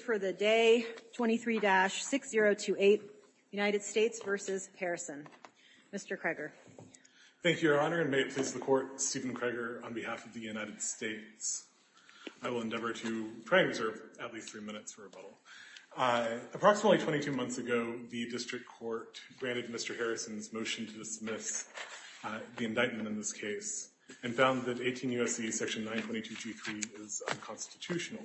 for the day, 23-6028, United States v. Harrison. Mr. Krager. Thank you, Your Honor, and may it please the Court, Stephen Krager on behalf of the United States. I will endeavor to try and reserve at least three minutes for rebuttal. Approximately 22 months ago, the district court granted Mr. Harrison's motion to dismiss the indictment in this case and found that 18 U.S.C. section 922G3 is unconstitutional.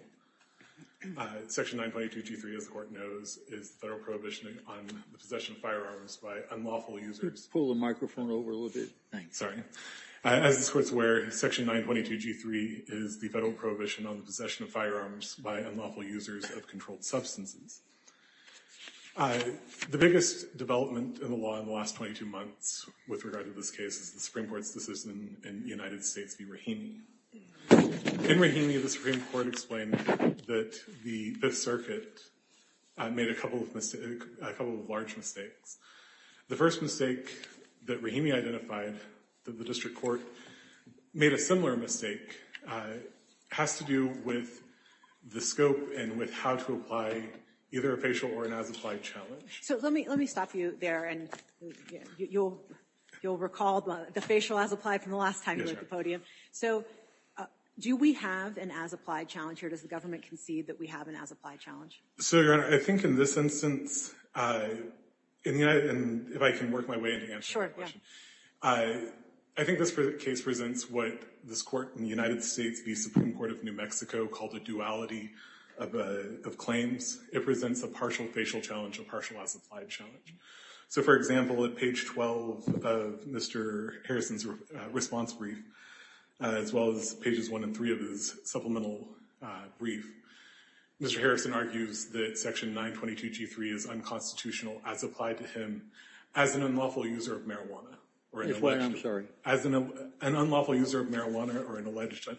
Section 922G3, as the Court knows, is the federal prohibition on the possession of firearms by unlawful users. Could you pull the microphone over a little bit? Thanks. Sorry. As this Court's aware, section 922G3 is the federal prohibition on the possession of firearms by unlawful users of controlled substances. The biggest development in the law in the last 22 months with regard to this case is the Supreme Court's decision in the United States v. Rahimi. In Rahimi, the Supreme Court explained that the Fifth Circuit made a couple of mistakes, a couple of large mistakes. The first mistake that Rahimi identified that the district court made a similar mistake has to do with the scope and with how to apply either a facial or an as-applied challenge. So let me stop you there, and you'll recall the facial as-applied from the last time you were at the podium. So do we have an as-applied challenge, or does the government concede that we have an as-applied challenge? So, Your Honor, I think in this instance, if I can work my way into answering the question. Sure. I think this case presents what this Court in the United States v. Supreme Court of New Mexico called a duality of claims. It presents a partial facial challenge, a partial as-applied challenge. So, for example, at page 12 of Mr. Harrison's response brief, as well as pages 1 and 3 of his supplemental brief, Mr. Harrison argues that Section 922G3 is unconstitutional as applied to him as an unlawful user of marijuana. I'm sorry. As an unlawful user of marijuana or an alleged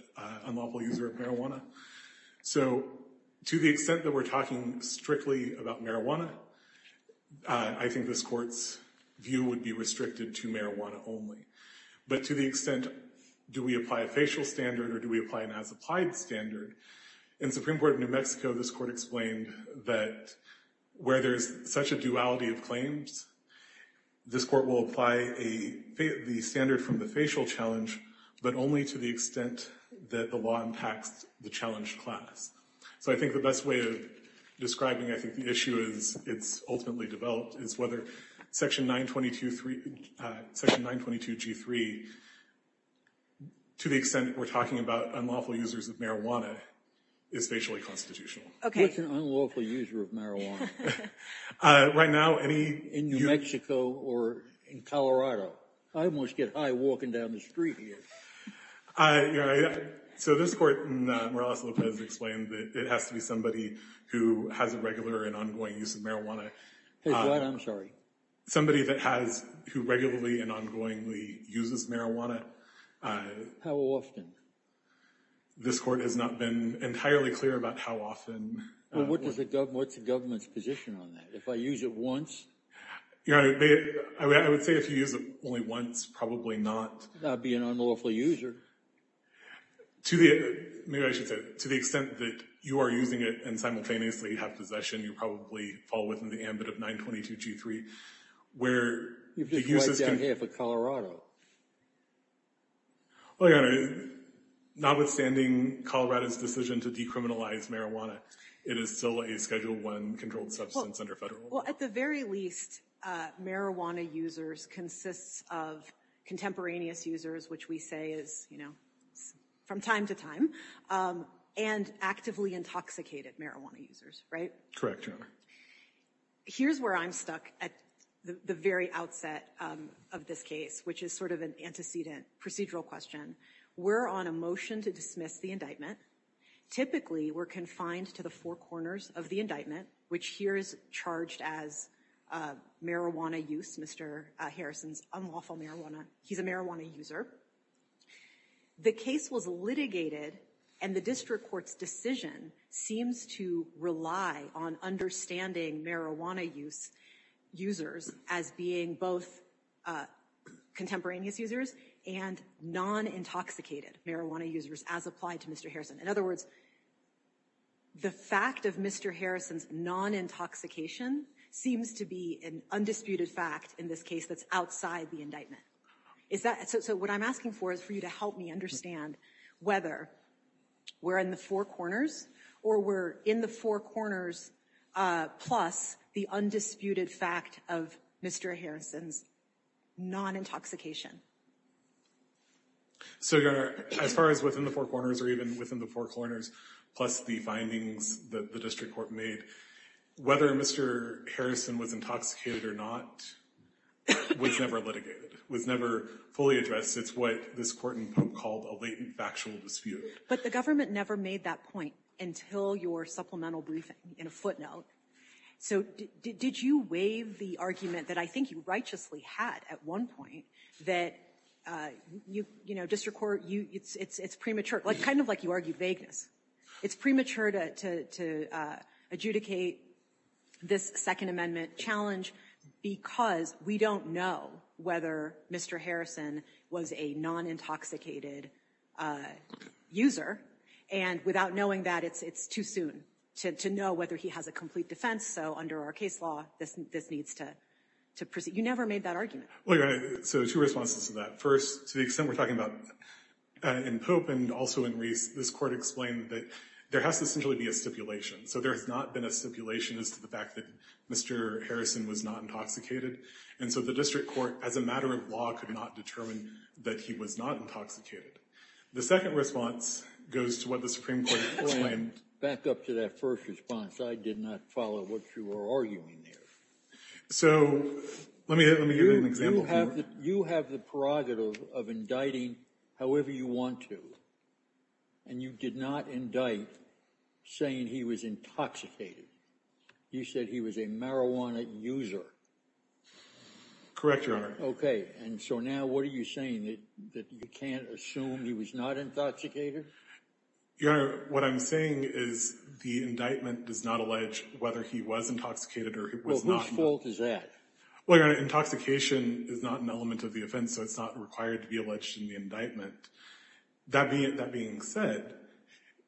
unlawful user of marijuana. So to the extent that we're talking strictly about marijuana, I think this Court's view would be restricted to marijuana only. But to the extent, do we apply a facial standard or do we apply an as-applied standard? In Supreme Court of New Mexico, this Court explained that where there's such a duality of claims, this Court will apply the standard from the facial challenge, but only to the extent that the law impacts the challenged class. So I think the best way of describing, I think, the issue as it's ultimately developed is whether Section 922G3, to the extent that we're talking about unlawful users of marijuana, is facially constitutional. What's an unlawful user of marijuana? In New Mexico or in Colorado? I almost get high walking down the street here. So this Court in Morales-Lopez explained that it has to be somebody who has a regular and ongoing use of marijuana. I'm sorry. Somebody that has, who regularly and ongoingly uses marijuana. How often? This Court has not been entirely clear about how often. What's the government's position on that? If I use it once? I would say if you use it only once, probably not. Not be an unlawful user. Maybe I should say, to the extent that you are using it and simultaneously have possession, you probably fall within the ambit of 922G3. You've just wiped out half of Colorado. Well, Your Honor, notwithstanding Colorado's decision to decriminalize marijuana, it is still a Schedule I controlled substance under federal law. Well, at the very least, marijuana users consists of contemporaneous users, which we say is, you know, from time to time, and actively intoxicated marijuana users, right? Correct, Your Honor. Here's where I'm stuck at the very outset of this case, which is sort of an antecedent procedural question. We're on a motion to dismiss the indictment. Typically, we're confined to the four corners of the indictment, which here is charged as marijuana use, Mr. Harrison's unlawful marijuana. He's a marijuana user. The case was litigated, and the district court's decision seems to rely on understanding marijuana users as being both contemporaneous users and non-intoxicated marijuana users as applied to Mr. Harrison. In other words, the fact of Mr. Harrison's non-intoxication seems to be an undisputed fact in this case that's outside the indictment. So what I'm asking for is for you to help me understand whether we're in the four corners, or we're in the four corners plus the undisputed fact of Mr. Harrison's non-intoxication. So, Your Honor, as far as within the four corners, or even within the four corners plus the findings that the district court made, whether Mr. Harrison was intoxicated or not was never litigated, was never fully addressed. It's what this court in Pope called a latent factual dispute. But the government never made that point until your supplemental briefing in a footnote. So did you waive the argument that I think you righteously had at one point that, you know, district court, it's premature, kind of like you argue vagueness. It's premature to adjudicate this Second Amendment challenge because we don't know whether Mr. Harrison was a non-intoxicated user. And without knowing that, it's too soon to know whether he has a complete defense. So under our case law, this needs to proceed. You never made that argument. Well, Your Honor, so two responses to that. First, to the extent we're talking about in Pope and also in Reese, this court explained that there has to essentially be a stipulation. So there has not been a stipulation as to the fact that Mr. Harrison was not intoxicated. And so the district court, as a matter of law, could not determine that he was not intoxicated. The second response goes to what the Supreme Court explained. Back up to that first response. I did not follow what you were arguing there. So let me give you an example. You have the prerogative of indicting however you want to. And you did not indict saying he was intoxicated. You said he was a marijuana user. Correct, Your Honor. Okay. And so now what are you saying, that you can't assume he was not intoxicated? Your Honor, what I'm saying is the indictment does not allege whether he was intoxicated or was not. Well, whose fault is that? Well, Your Honor, intoxication is not an element of the offense, so it's not required to be alleged in the indictment. That being said,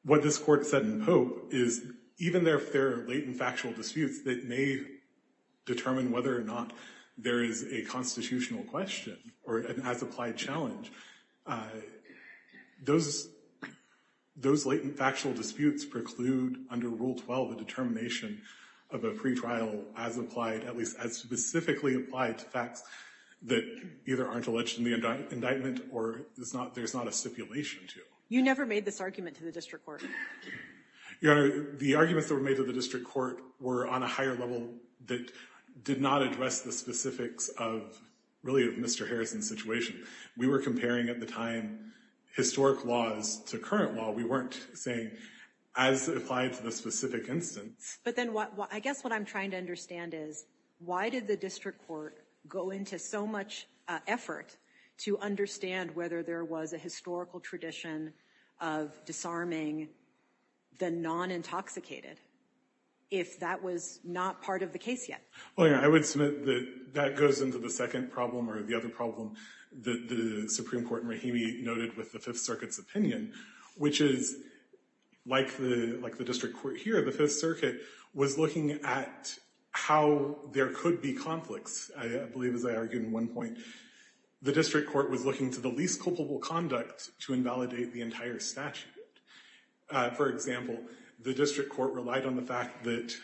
what this court said in Pope is even if there are latent factual disputes that may determine whether or not there is a constitutional question or an as-applied challenge, those latent factual disputes preclude under Rule 12 the determination of a pretrial as-applied, at least as specifically applied to facts that either aren't alleged in the indictment or there's not a stipulation to. You never made this argument to the district court. Your Honor, the arguments that were made to the district court were on a higher level that did not address the specifics of really Mr. Harrison's situation. We were comparing at the time historic laws to current law. We weren't saying as applied to the specific instance. But then I guess what I'm trying to understand is why did the district court go into so much effort to understand whether there was a historical tradition of disarming the non-intoxicated if that was not part of the case yet? Well, Your Honor, I would submit that that goes into the second problem or the other problem that the Supreme Court in Rahimi noted with the Fifth Circuit's opinion, which is like the district court here, the Fifth Circuit was looking at how there could be conflicts. I believe, as I argued in one point, the district court was looking to the least culpable conduct to invalidate the entire statute. For example, the district court relied on the fact that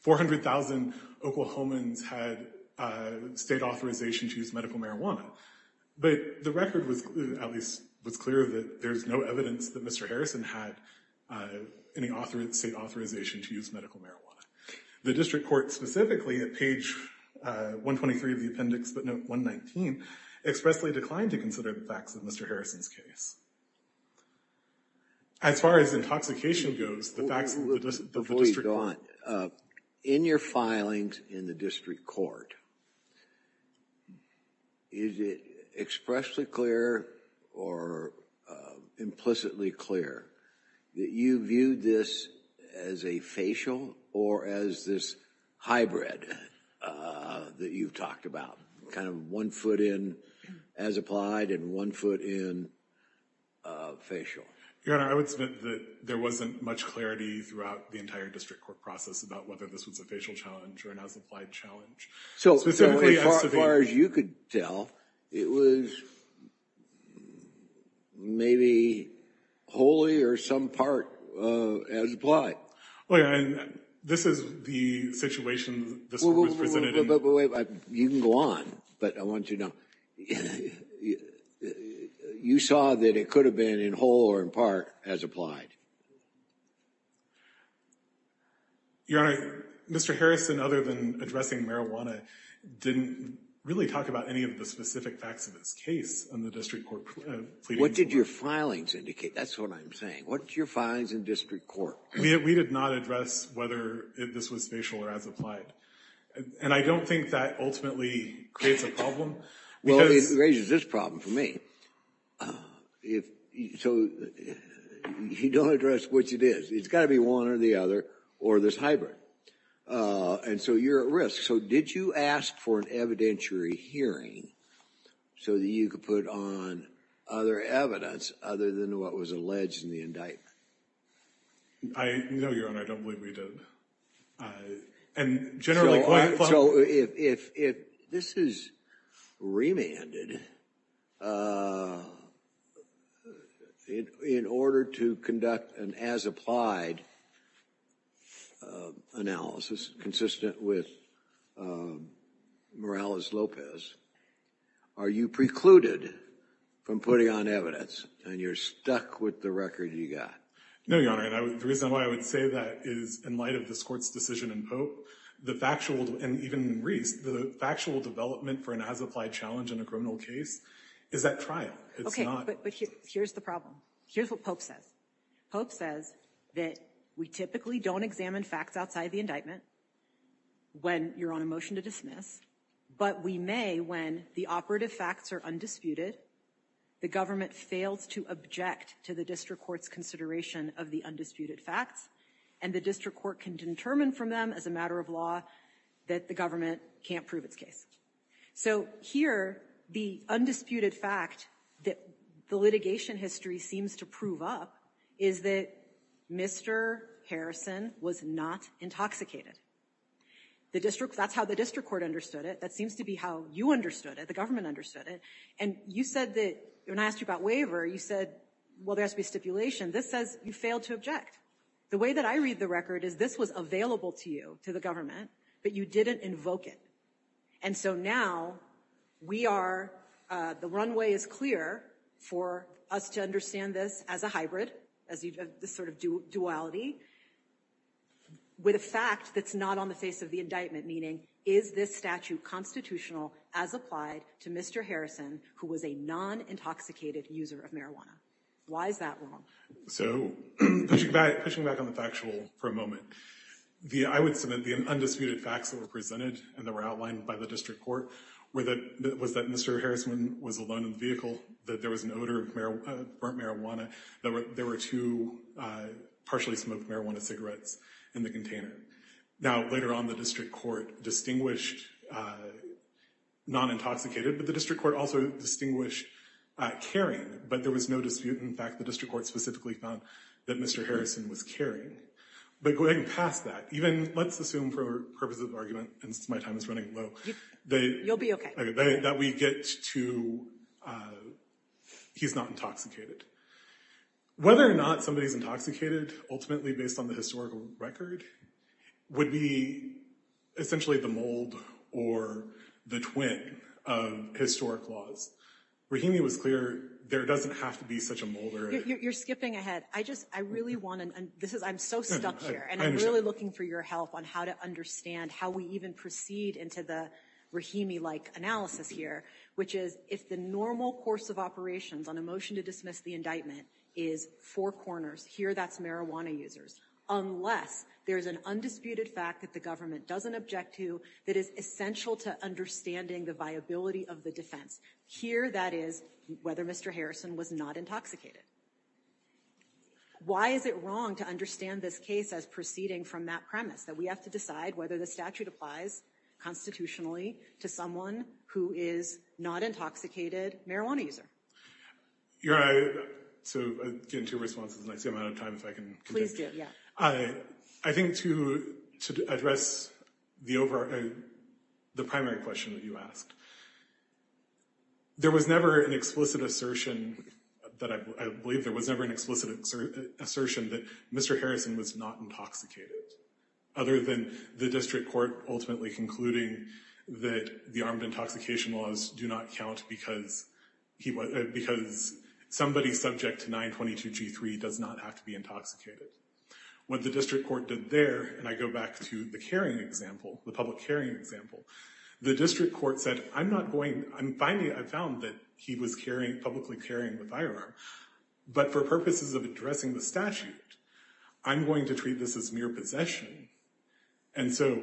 400,000 Oklahomans had state authorization to use medical marijuana. But the record at least was clear that there's no evidence that Mr. Harrison had any state authorization to use medical marijuana. The district court specifically at page 123 of the appendix, but note 119, expressly declined to consider the facts of Mr. Harrison's case. As far as intoxication goes, the facts of the district court— expressly clear or implicitly clear that you viewed this as a facial or as this hybrid that you've talked about, kind of one foot in as applied and one foot in facial? Your Honor, I would submit that there wasn't much clarity throughout the entire district court process about whether this was a facial challenge or an as applied challenge. Specifically as to the— So, as far as you could tell, it was maybe wholly or some part as applied. Oh, yeah, and this is the situation this was presented in— Wait, wait, wait. You can go on, but I want you to know. You saw that it could have been in whole or in part as applied. Your Honor, Mr. Harrison, other than addressing marijuana, didn't really talk about any of the specific facts of his case on the district court plea— What did your filings indicate? That's what I'm saying. What's your filings in district court? We did not address whether this was facial or as applied, and I don't think that ultimately creates a problem because— Well, it raises this problem for me. So, you don't address which it is. It's got to be one or the other or this hybrid, and so you're at risk. So, did you ask for an evidentiary hearing so that you could put on other evidence other than what was alleged in the indictment? No, Your Honor, I don't believe we did. And generally— So, if this is remanded in order to conduct an as applied analysis consistent with Morales-Lopez, are you precluded from putting on evidence and you're stuck with the record you got? No, Your Honor. The reason why I would say that is in light of this court's decision in Pope, the factual—and even in Reese— the factual development for an as applied challenge in a criminal case is that trial. It's not— Okay, but here's the problem. Here's what Pope says. Pope says that we typically don't examine facts outside the indictment when you're on a motion to dismiss, but we may when the operative facts are undisputed, the government fails to object to the district court's consideration of the undisputed facts and the district court can determine from them as a matter of law that the government can't prove its case. So, here, the undisputed fact that the litigation history seems to prove up is that Mr. Harrison was not intoxicated. That's how the district court understood it. That seems to be how you understood it. The government understood it. And you said that—when I asked you about waiver, you said, well, there has to be stipulation. This says you failed to object. The way that I read the record is this was available to you, to the government, but you didn't invoke it. And so now we are—the runway is clear for us to understand this as a hybrid, as this sort of duality with a fact that's not on the face of the indictment, meaning is this statute constitutional as applied to Mr. Harrison, who was a non-intoxicated user of marijuana? Why is that wrong? So, pushing back on the factual for a moment, I would submit the undisputed facts that were presented and that were outlined by the district court was that Mr. Harrison was alone in the vehicle, that there was an odor of burnt marijuana, that there were two partially smoked marijuana cigarettes in the container. Now, later on, the district court distinguished non-intoxicated, but the district court also distinguished carrying, but there was no dispute. In fact, the district court specifically found that Mr. Harrison was carrying. But going past that, even—let's assume for purposes of argument, and my time is running low— You'll be okay. —that we get to he's not intoxicated. Whether or not somebody's intoxicated, ultimately based on the historical record, would be essentially the mold or the twin of historic laws. Rahimi was clear there doesn't have to be such a mold or— You're skipping ahead. I just—I really want to—I'm so stuck here, and I'm really looking for your help on how to understand how we even proceed into the Rahimi-like analysis here, which is if the normal course of operations on a motion to dismiss the indictment is four corners, here that's marijuana users, unless there's an undisputed fact that the government doesn't object to that is essential to understanding the viability of the defense. Here that is whether Mr. Harrison was not intoxicated. Why is it wrong to understand this case as proceeding from that premise, that we have to decide whether the statute applies constitutionally to someone who is not intoxicated marijuana user? You're right. So, again, two responses, and I see I'm out of time if I can— Please do, yeah. I think to address the primary question that you asked, there was never an explicit assertion that— I believe there was never an explicit assertion that Mr. Harrison was not intoxicated, other than the district court ultimately concluding that the armed intoxication laws do not count because somebody subject to 922 G3 does not have to be intoxicated. What the district court did there, and I go back to the carrying example, the public carrying example, the district court said, I'm not going— Finally, I found that he was publicly carrying the firearm, but for purposes of addressing the statute, I'm going to treat this as mere possession. And so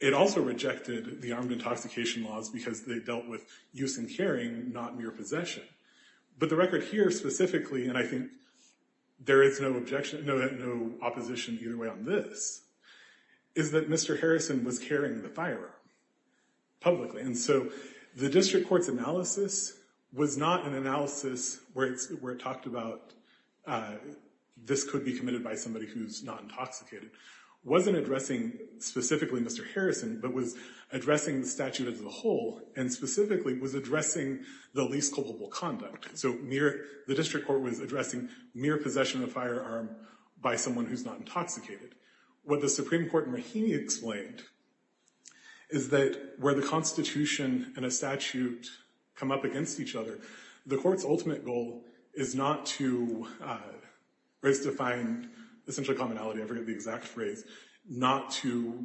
it also rejected the armed intoxication laws because they dealt with use and carrying, not mere possession. But the record here specifically, and I think there is no objection, no opposition either way on this, is that Mr. Harrison was carrying the firearm publicly. And so the district court's analysis was not an analysis where it talked about this could be committed by somebody who's not intoxicated. It wasn't addressing specifically Mr. Harrison, but was addressing the statute as a whole, and specifically was addressing the least culpable conduct. So the district court was addressing mere possession of the firearm by someone who's not intoxicated. What the Supreme Court in Rahimi explained is that where the Constitution and a statute come up against each other, the court's ultimate goal is not to— or is to find, essentially commonality, I forget the exact phrase, not to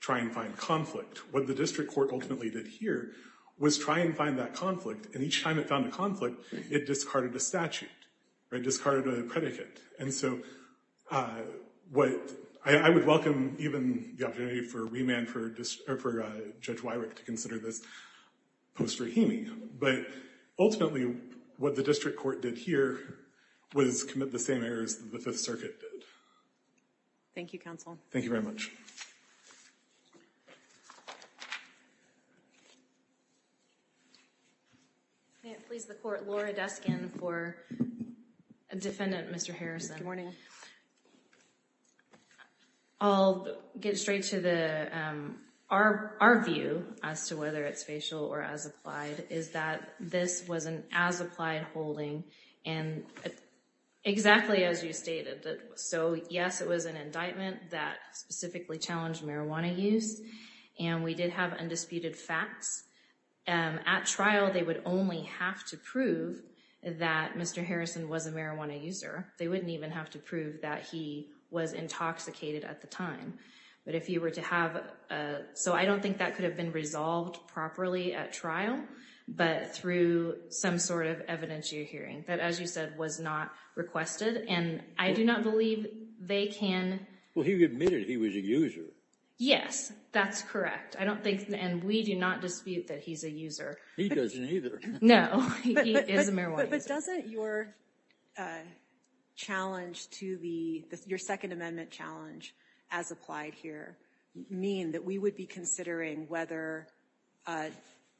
try and find conflict. What the district court ultimately did here was try and find that conflict. And each time it found a conflict, it discarded a statute, or it discarded a predicate. And so what—I would welcome even the opportunity for remand for Judge Wyrick to consider this post-Rahimi. But ultimately, what the district court did here was commit the same errors that the Fifth Circuit did. Thank you, Counsel. Thank you very much. May it please the Court. Laura Duskin for Defendant Mr. Harrison. Good morning. I'll get straight to the—our view as to whether it's facial or as applied is that this was an as-applied holding, and exactly as you stated. So, yes, it was an indictment that specifically challenged marijuana use, and we did have undisputed facts. At trial, they would only have to prove that Mr. Harrison was a marijuana user. They wouldn't even have to prove that he was intoxicated at the time. But if you were to have— so I don't think that could have been resolved properly at trial, but through some sort of evidence you're hearing, that, as you said, was not requested. And I do not believe they can— Well, he admitted he was a user. Yes, that's correct. I don't think—and we do not dispute that he's a user. He doesn't either. No, he is a marijuana user. But doesn't your challenge to the— your Second Amendment challenge as applied here mean that we would be considering whether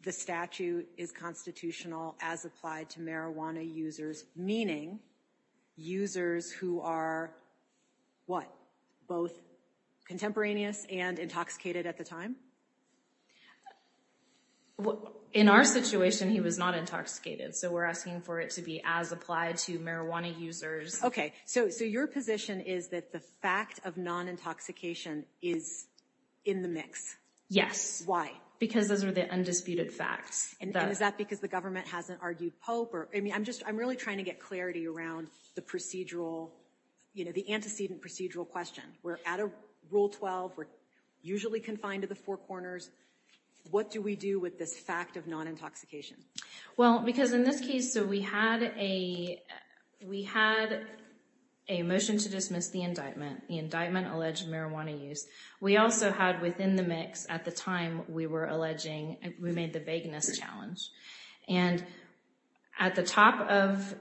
the statute is constitutional as applied to marijuana users, meaning users who are, what, both contemporaneous and intoxicated at the time? In our situation, he was not intoxicated, so we're asking for it to be as applied to marijuana users. Okay. So your position is that the fact of non-intoxication is in the mix? Yes. Why? Because those are the undisputed facts. And is that because the government hasn't argued Pope? I mean, I'm just—I'm really trying to get clarity around the procedural— you know, the antecedent procedural question. We're at Rule 12. We're usually confined to the four corners. What do we do with this fact of non-intoxication? Well, because in this case, so we had a— we had a motion to dismiss the indictment, the indictment alleged marijuana use. We also had within the mix, at the time we were alleging, we made the vagueness challenge. And at the top of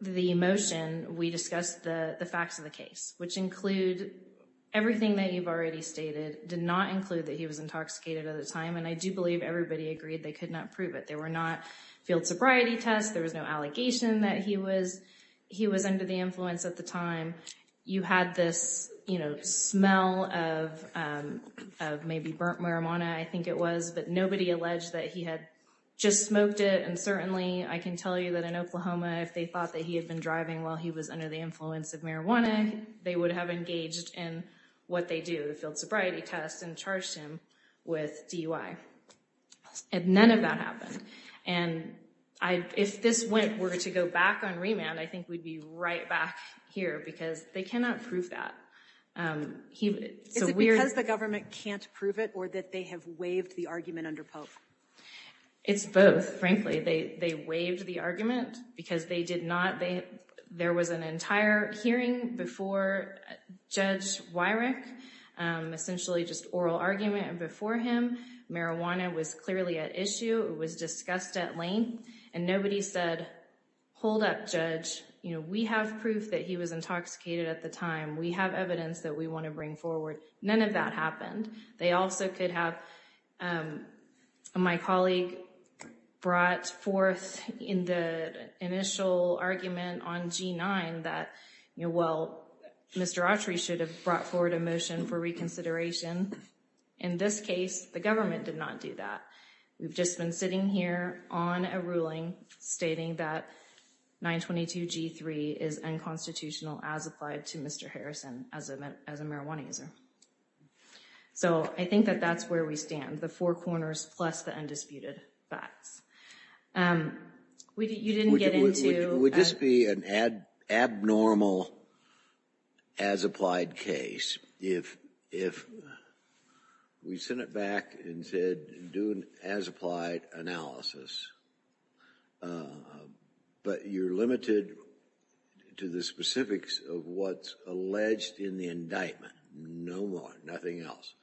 the motion, we discussed the facts of the case, which include everything that you've already stated did not include that he was intoxicated at the time. And I do believe everybody agreed they could not prove it. There were not field sobriety tests. There was no allegation that he was under the influence at the time. You had this, you know, smell of maybe burnt marijuana, I think it was, but nobody alleged that he had just smoked it. And certainly I can tell you that in Oklahoma, if they thought that he had been driving while he was under the influence of marijuana, they would have engaged in what they do, the field sobriety test, and charged him with DUI. And none of that happened. And if this went, were to go back on remand, I think we'd be right back here because they cannot prove that. Is it because the government can't prove it or that they have waived the argument under Pope? It's both, frankly. They waived the argument because they did not, there was an entire hearing before Judge Wyrick, essentially just oral argument. And before him, marijuana was clearly at issue. It was discussed at length. And nobody said, hold up, Judge. We have proof that he was intoxicated at the time. We have evidence that we want to bring forward. None of that happened. They also could have, my colleague brought forth in the initial argument on G9 that, well, Mr. Autry should have brought forward a motion for reconsideration. In this case, the government did not do that. We've just been sitting here on a ruling stating that 922 G3 is unconstitutional as applied to Mr. Harrison as a marijuana user. So I think that that's where we stand, the four corners plus the undisputed facts. You didn't get into- Would this be an abnormal as applied case if we sent it back and said, do an as applied analysis, but you're limited to the specifics of what's alleged in the indictment. No more, nothing else.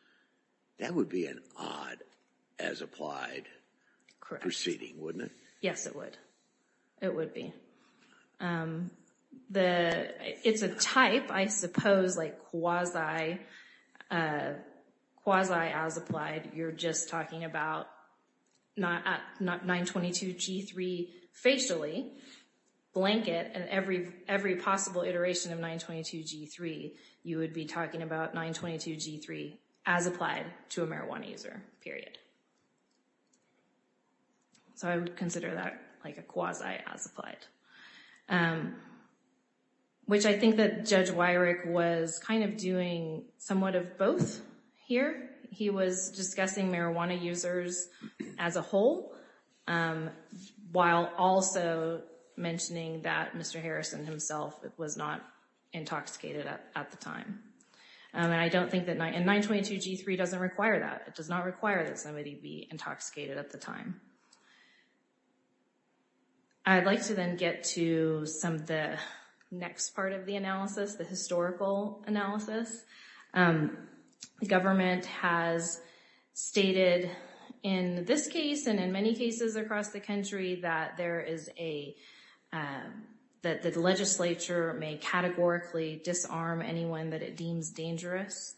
That would be an odd as applied proceeding, wouldn't it? Yes, it would. It would be. It's a type, I suppose, like quasi as applied. You're just talking about 922 G3 facially, blanket, and every possible iteration of 922 G3, you would be talking about 922 G3 as applied to a marijuana user, period. So I would consider that like a quasi as applied, which I think that Judge Wyrick was kind of doing somewhat of both here. He was discussing marijuana users as a whole, while also mentioning that Mr. Harrison himself was not intoxicated at the time. And I don't think that- and 922 G3 doesn't require that. It does not require that somebody be intoxicated at the time. I'd like to then get to some of the next part of the analysis, the historical analysis. The government has stated in this case and in many cases across the country that there is a- that the legislature may categorically disarm anyone that it deems dangerous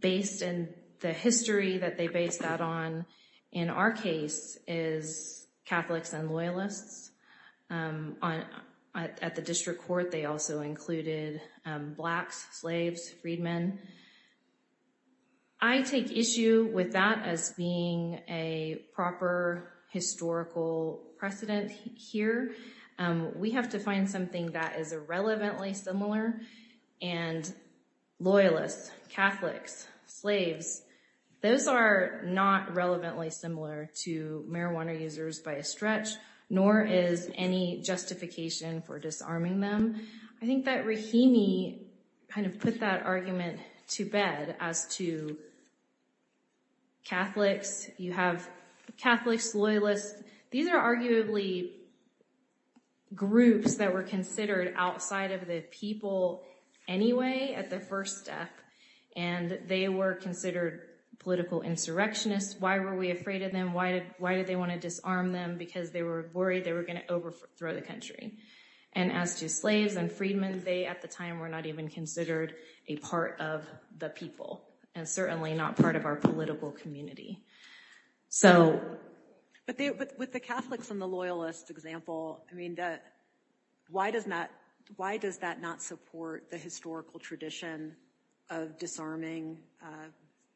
based in the history that they base that on. In our case, it's Catholics and Loyalists. At the district court, they also included blacks, slaves, freedmen. I take issue with that as being a proper historical precedent here. We have to find something that is irrelevantly similar, and Loyalists, Catholics, slaves, those are not relevantly similar to marijuana users by a stretch, nor is any justification for disarming them. I think that Rahimi kind of put that argument to bed as to Catholics. You have Catholics, Loyalists. These are arguably groups that were considered outside of the people anyway at the first step, and they were considered political insurrectionists. Why were we afraid of them? Why did they want to disarm them? Because they were worried they were going to overthrow the country. And as to slaves and freedmen, they at the time were not even considered a part of the people and certainly not part of our political community. But with the Catholics and the Loyalists example, why does that not support the historical tradition of disarming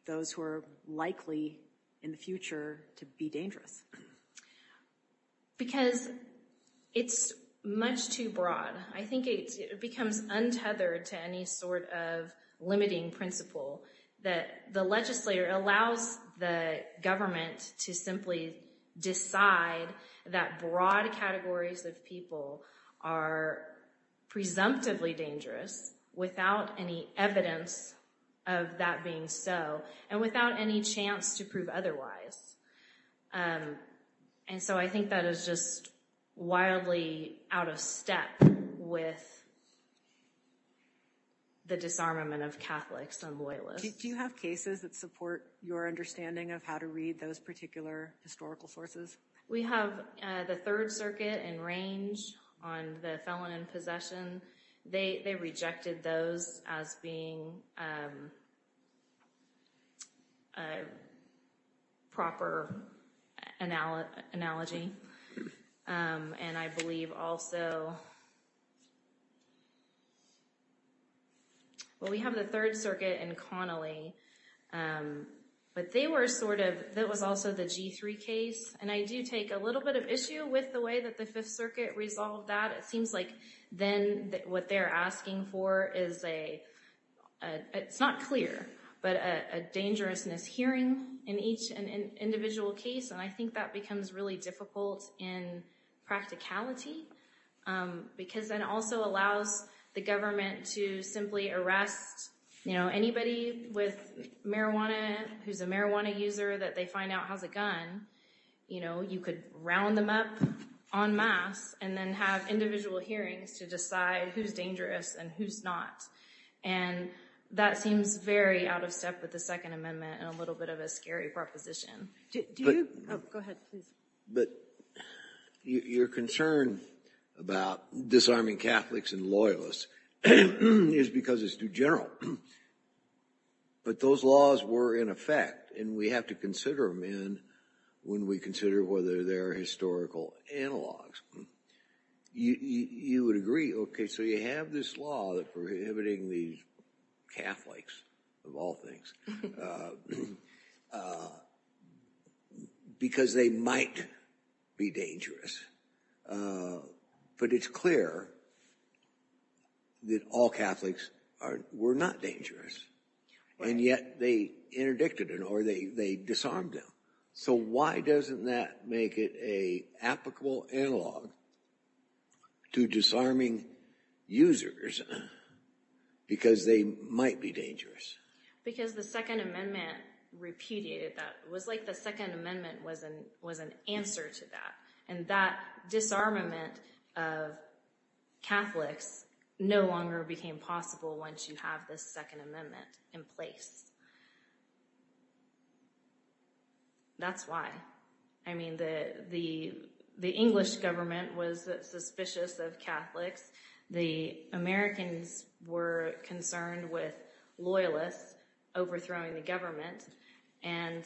those who are likely in the future to be dangerous? Because it's much too broad. I think it becomes untethered to any sort of limiting principle that the legislator allows the government to simply decide that broad categories of people are presumptively dangerous without any evidence of that being so and without any chance to prove otherwise. And so I think that is just wildly out of step with the disarmament of Catholics and Loyalists. Do you have cases that support your understanding of how to read those particular historical sources? We have the Third Circuit and Range on the felon in possession. They rejected those as being a proper analogy. And I believe also, well, we have the Third Circuit and Connolly. But they were sort of, that was also the G3 case. And I do take a little bit of issue with the way that the Fifth Circuit resolved that. It seems like then what they're asking for is a, it's not clear, but a dangerousness hearing in each individual case. And I think that becomes really difficult in practicality because then it also allows the government to simply arrest anybody with marijuana who's a marijuana user that they find out has a gun. You could round them up en masse and then have individual hearings to decide who's dangerous and who's not. And that seems very out of step with the Second Amendment and a little bit of a scary proposition. Go ahead, please. But your concern about disarming Catholics and Loyalists is because it's too general. But those laws were in effect, and we have to consider them when we consider whether they're historical analogs. You would agree, okay, so you have this law that's prohibiting these Catholics, of all things, because they might be dangerous. But it's clear that all Catholics were not dangerous, and yet they interdicted them or they disarmed them. So why doesn't that make it an applicable analog to disarming users because they might be dangerous? Because the Second Amendment repudiated that. It was like the Second Amendment was an answer to that, and that disarmament of Catholics no longer became possible once you have this Second Amendment in place. That's why. I mean, the English government was suspicious of Catholics. The Americans were concerned with Loyalists overthrowing the government, and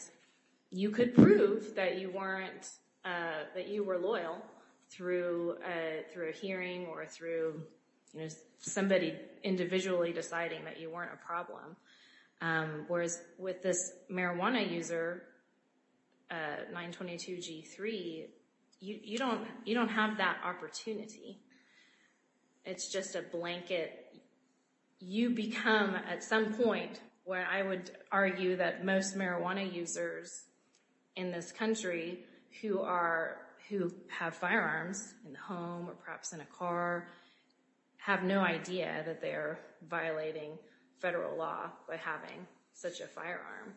you could prove that you were loyal through a hearing or through somebody individually deciding that you weren't a problem. Whereas with this marijuana user, 922G3, you don't have that opportunity. It's just a blanket. You become, at some point, where I would argue that most marijuana users in this country who have firearms in the home or perhaps in a car have no idea that they're violating federal law by having such a firearm.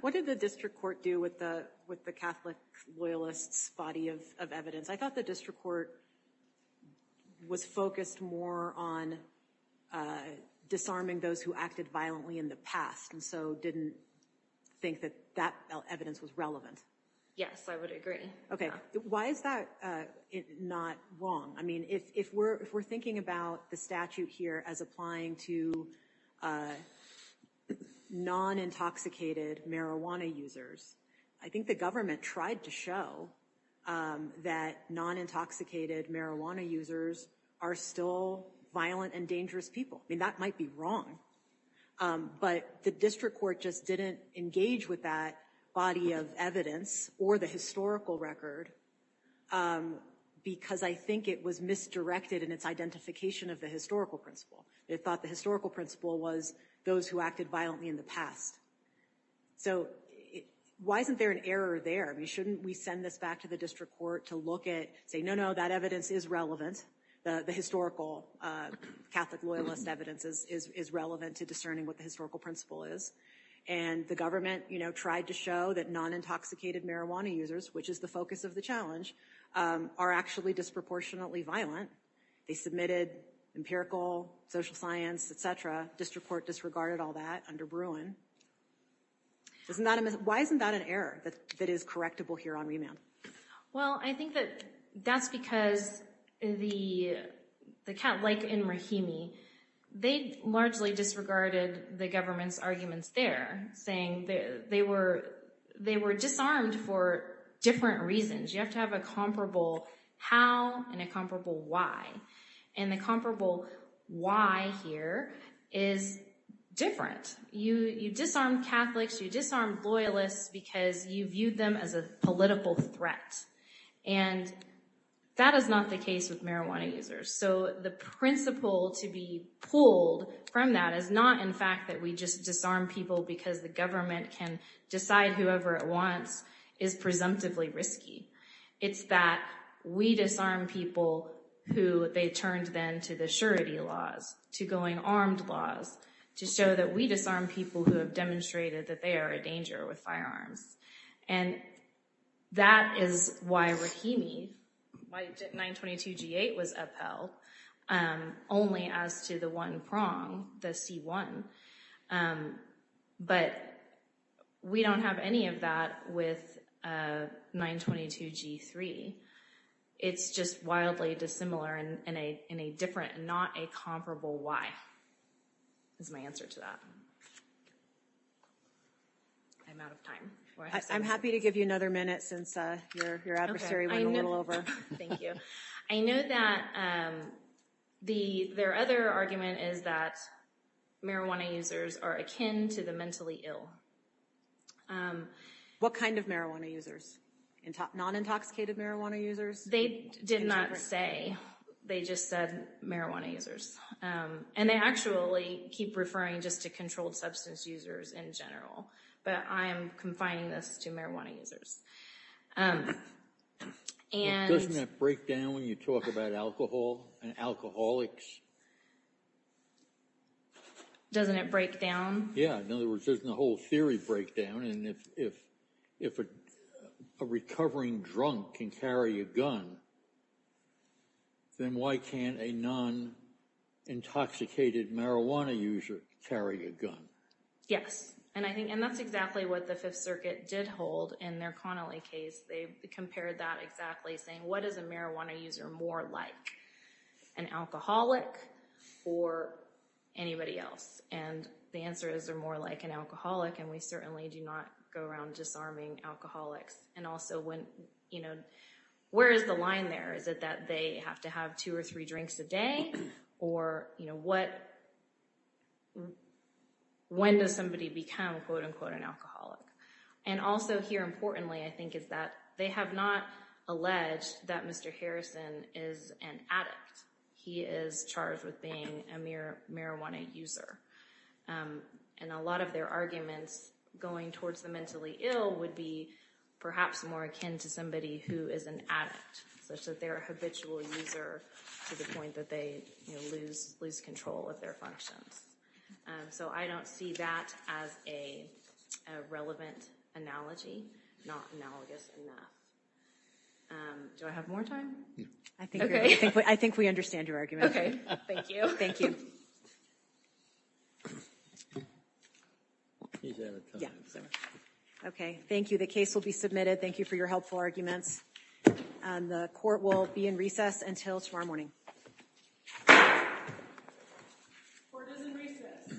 What did the district court do with the Catholic Loyalists' body of evidence? I thought the district court was focused more on disarming those who acted violently in the past and so didn't think that that evidence was relevant. Yes, I would agree. Okay. Why is that not wrong? I mean, if we're thinking about the statute here as applying to non-intoxicated marijuana users, I think the government tried to show that non-intoxicated marijuana users are still violent and dangerous people. I mean, that might be wrong, but the district court just didn't engage with that body of evidence or the historical record because I think it was misdirected in its identification of the historical principle. It thought the historical principle was those who acted violently in the past. So why isn't there an error there? I mean, shouldn't we send this back to the district court to look at, say, no, no, that evidence is relevant, the historical Catholic Loyalist evidence is relevant to discerning what the historical principle is, and the government tried to show that non-intoxicated marijuana users, which is the focus of the challenge, are actually disproportionately violent. They submitted empirical, social science, et cetera. District court disregarded all that under Bruin. Why isn't that an error that is correctable here on remand? Well, I think that that's because the Catholic in Rahimi, they largely disregarded the government's arguments there, saying they were disarmed for different reasons. You have to have a comparable how and a comparable why, and the comparable why here is different. You disarmed Catholics, you disarmed Loyalists because you viewed them as a political threat, and that is not the case with marijuana users. So the principle to be pulled from that is not, in fact, that we just disarm people because the government can decide whoever it wants is presumptively risky. It's that we disarm people who they turned then to the surety laws, to going armed laws, to show that we disarm people who have demonstrated that they are a danger with firearms. And that is why Rahimi, why 922 G-8 was upheld, only as to the one prong, the C-1. But we don't have any of that with 922 G-3. It's just wildly dissimilar and a different and not a comparable why is my answer to that. I'm out of time. I'm happy to give you another minute since your adversary went a little over. Thank you. I know that their other argument is that marijuana users are akin to the mentally ill. What kind of marijuana users? Non-intoxicated marijuana users? They did not say. They just said marijuana users. And they actually keep referring just to controlled substance users in general. But I am confining this to marijuana users. Doesn't that break down when you talk about alcohol and alcoholics? Doesn't it break down? Yeah. In other words, doesn't the whole theory break down? And if a recovering drunk can carry a gun, then why can't a non-intoxicated marijuana user carry a gun? Yes. And that's exactly what the Fifth Circuit did hold in their Connolly case. They compared that exactly saying, what is a marijuana user more like, an alcoholic or anybody else? And the answer is they're more like an alcoholic, and we certainly do not go around disarming alcoholics. And also, where is the line there? Is it that they have to have two or three drinks a day? Or when does somebody become, quote, unquote, an alcoholic? And also here, importantly, I think, is that they have not alleged that Mr. Harrison is an addict. He is charged with being a marijuana user. And a lot of their arguments going towards the mentally ill would be perhaps more akin to somebody who is an addict, such that they're a habitual user to the point that they lose control of their functions. So I don't see that as a relevant analogy, not analogous enough. Do I have more time? I think we understand your argument. Okay. Thank you. Thank you. Okay. Thank you. The case will be submitted. Thank you for your helpful arguments. And the court will be in recess until tomorrow morning. Court is in recess.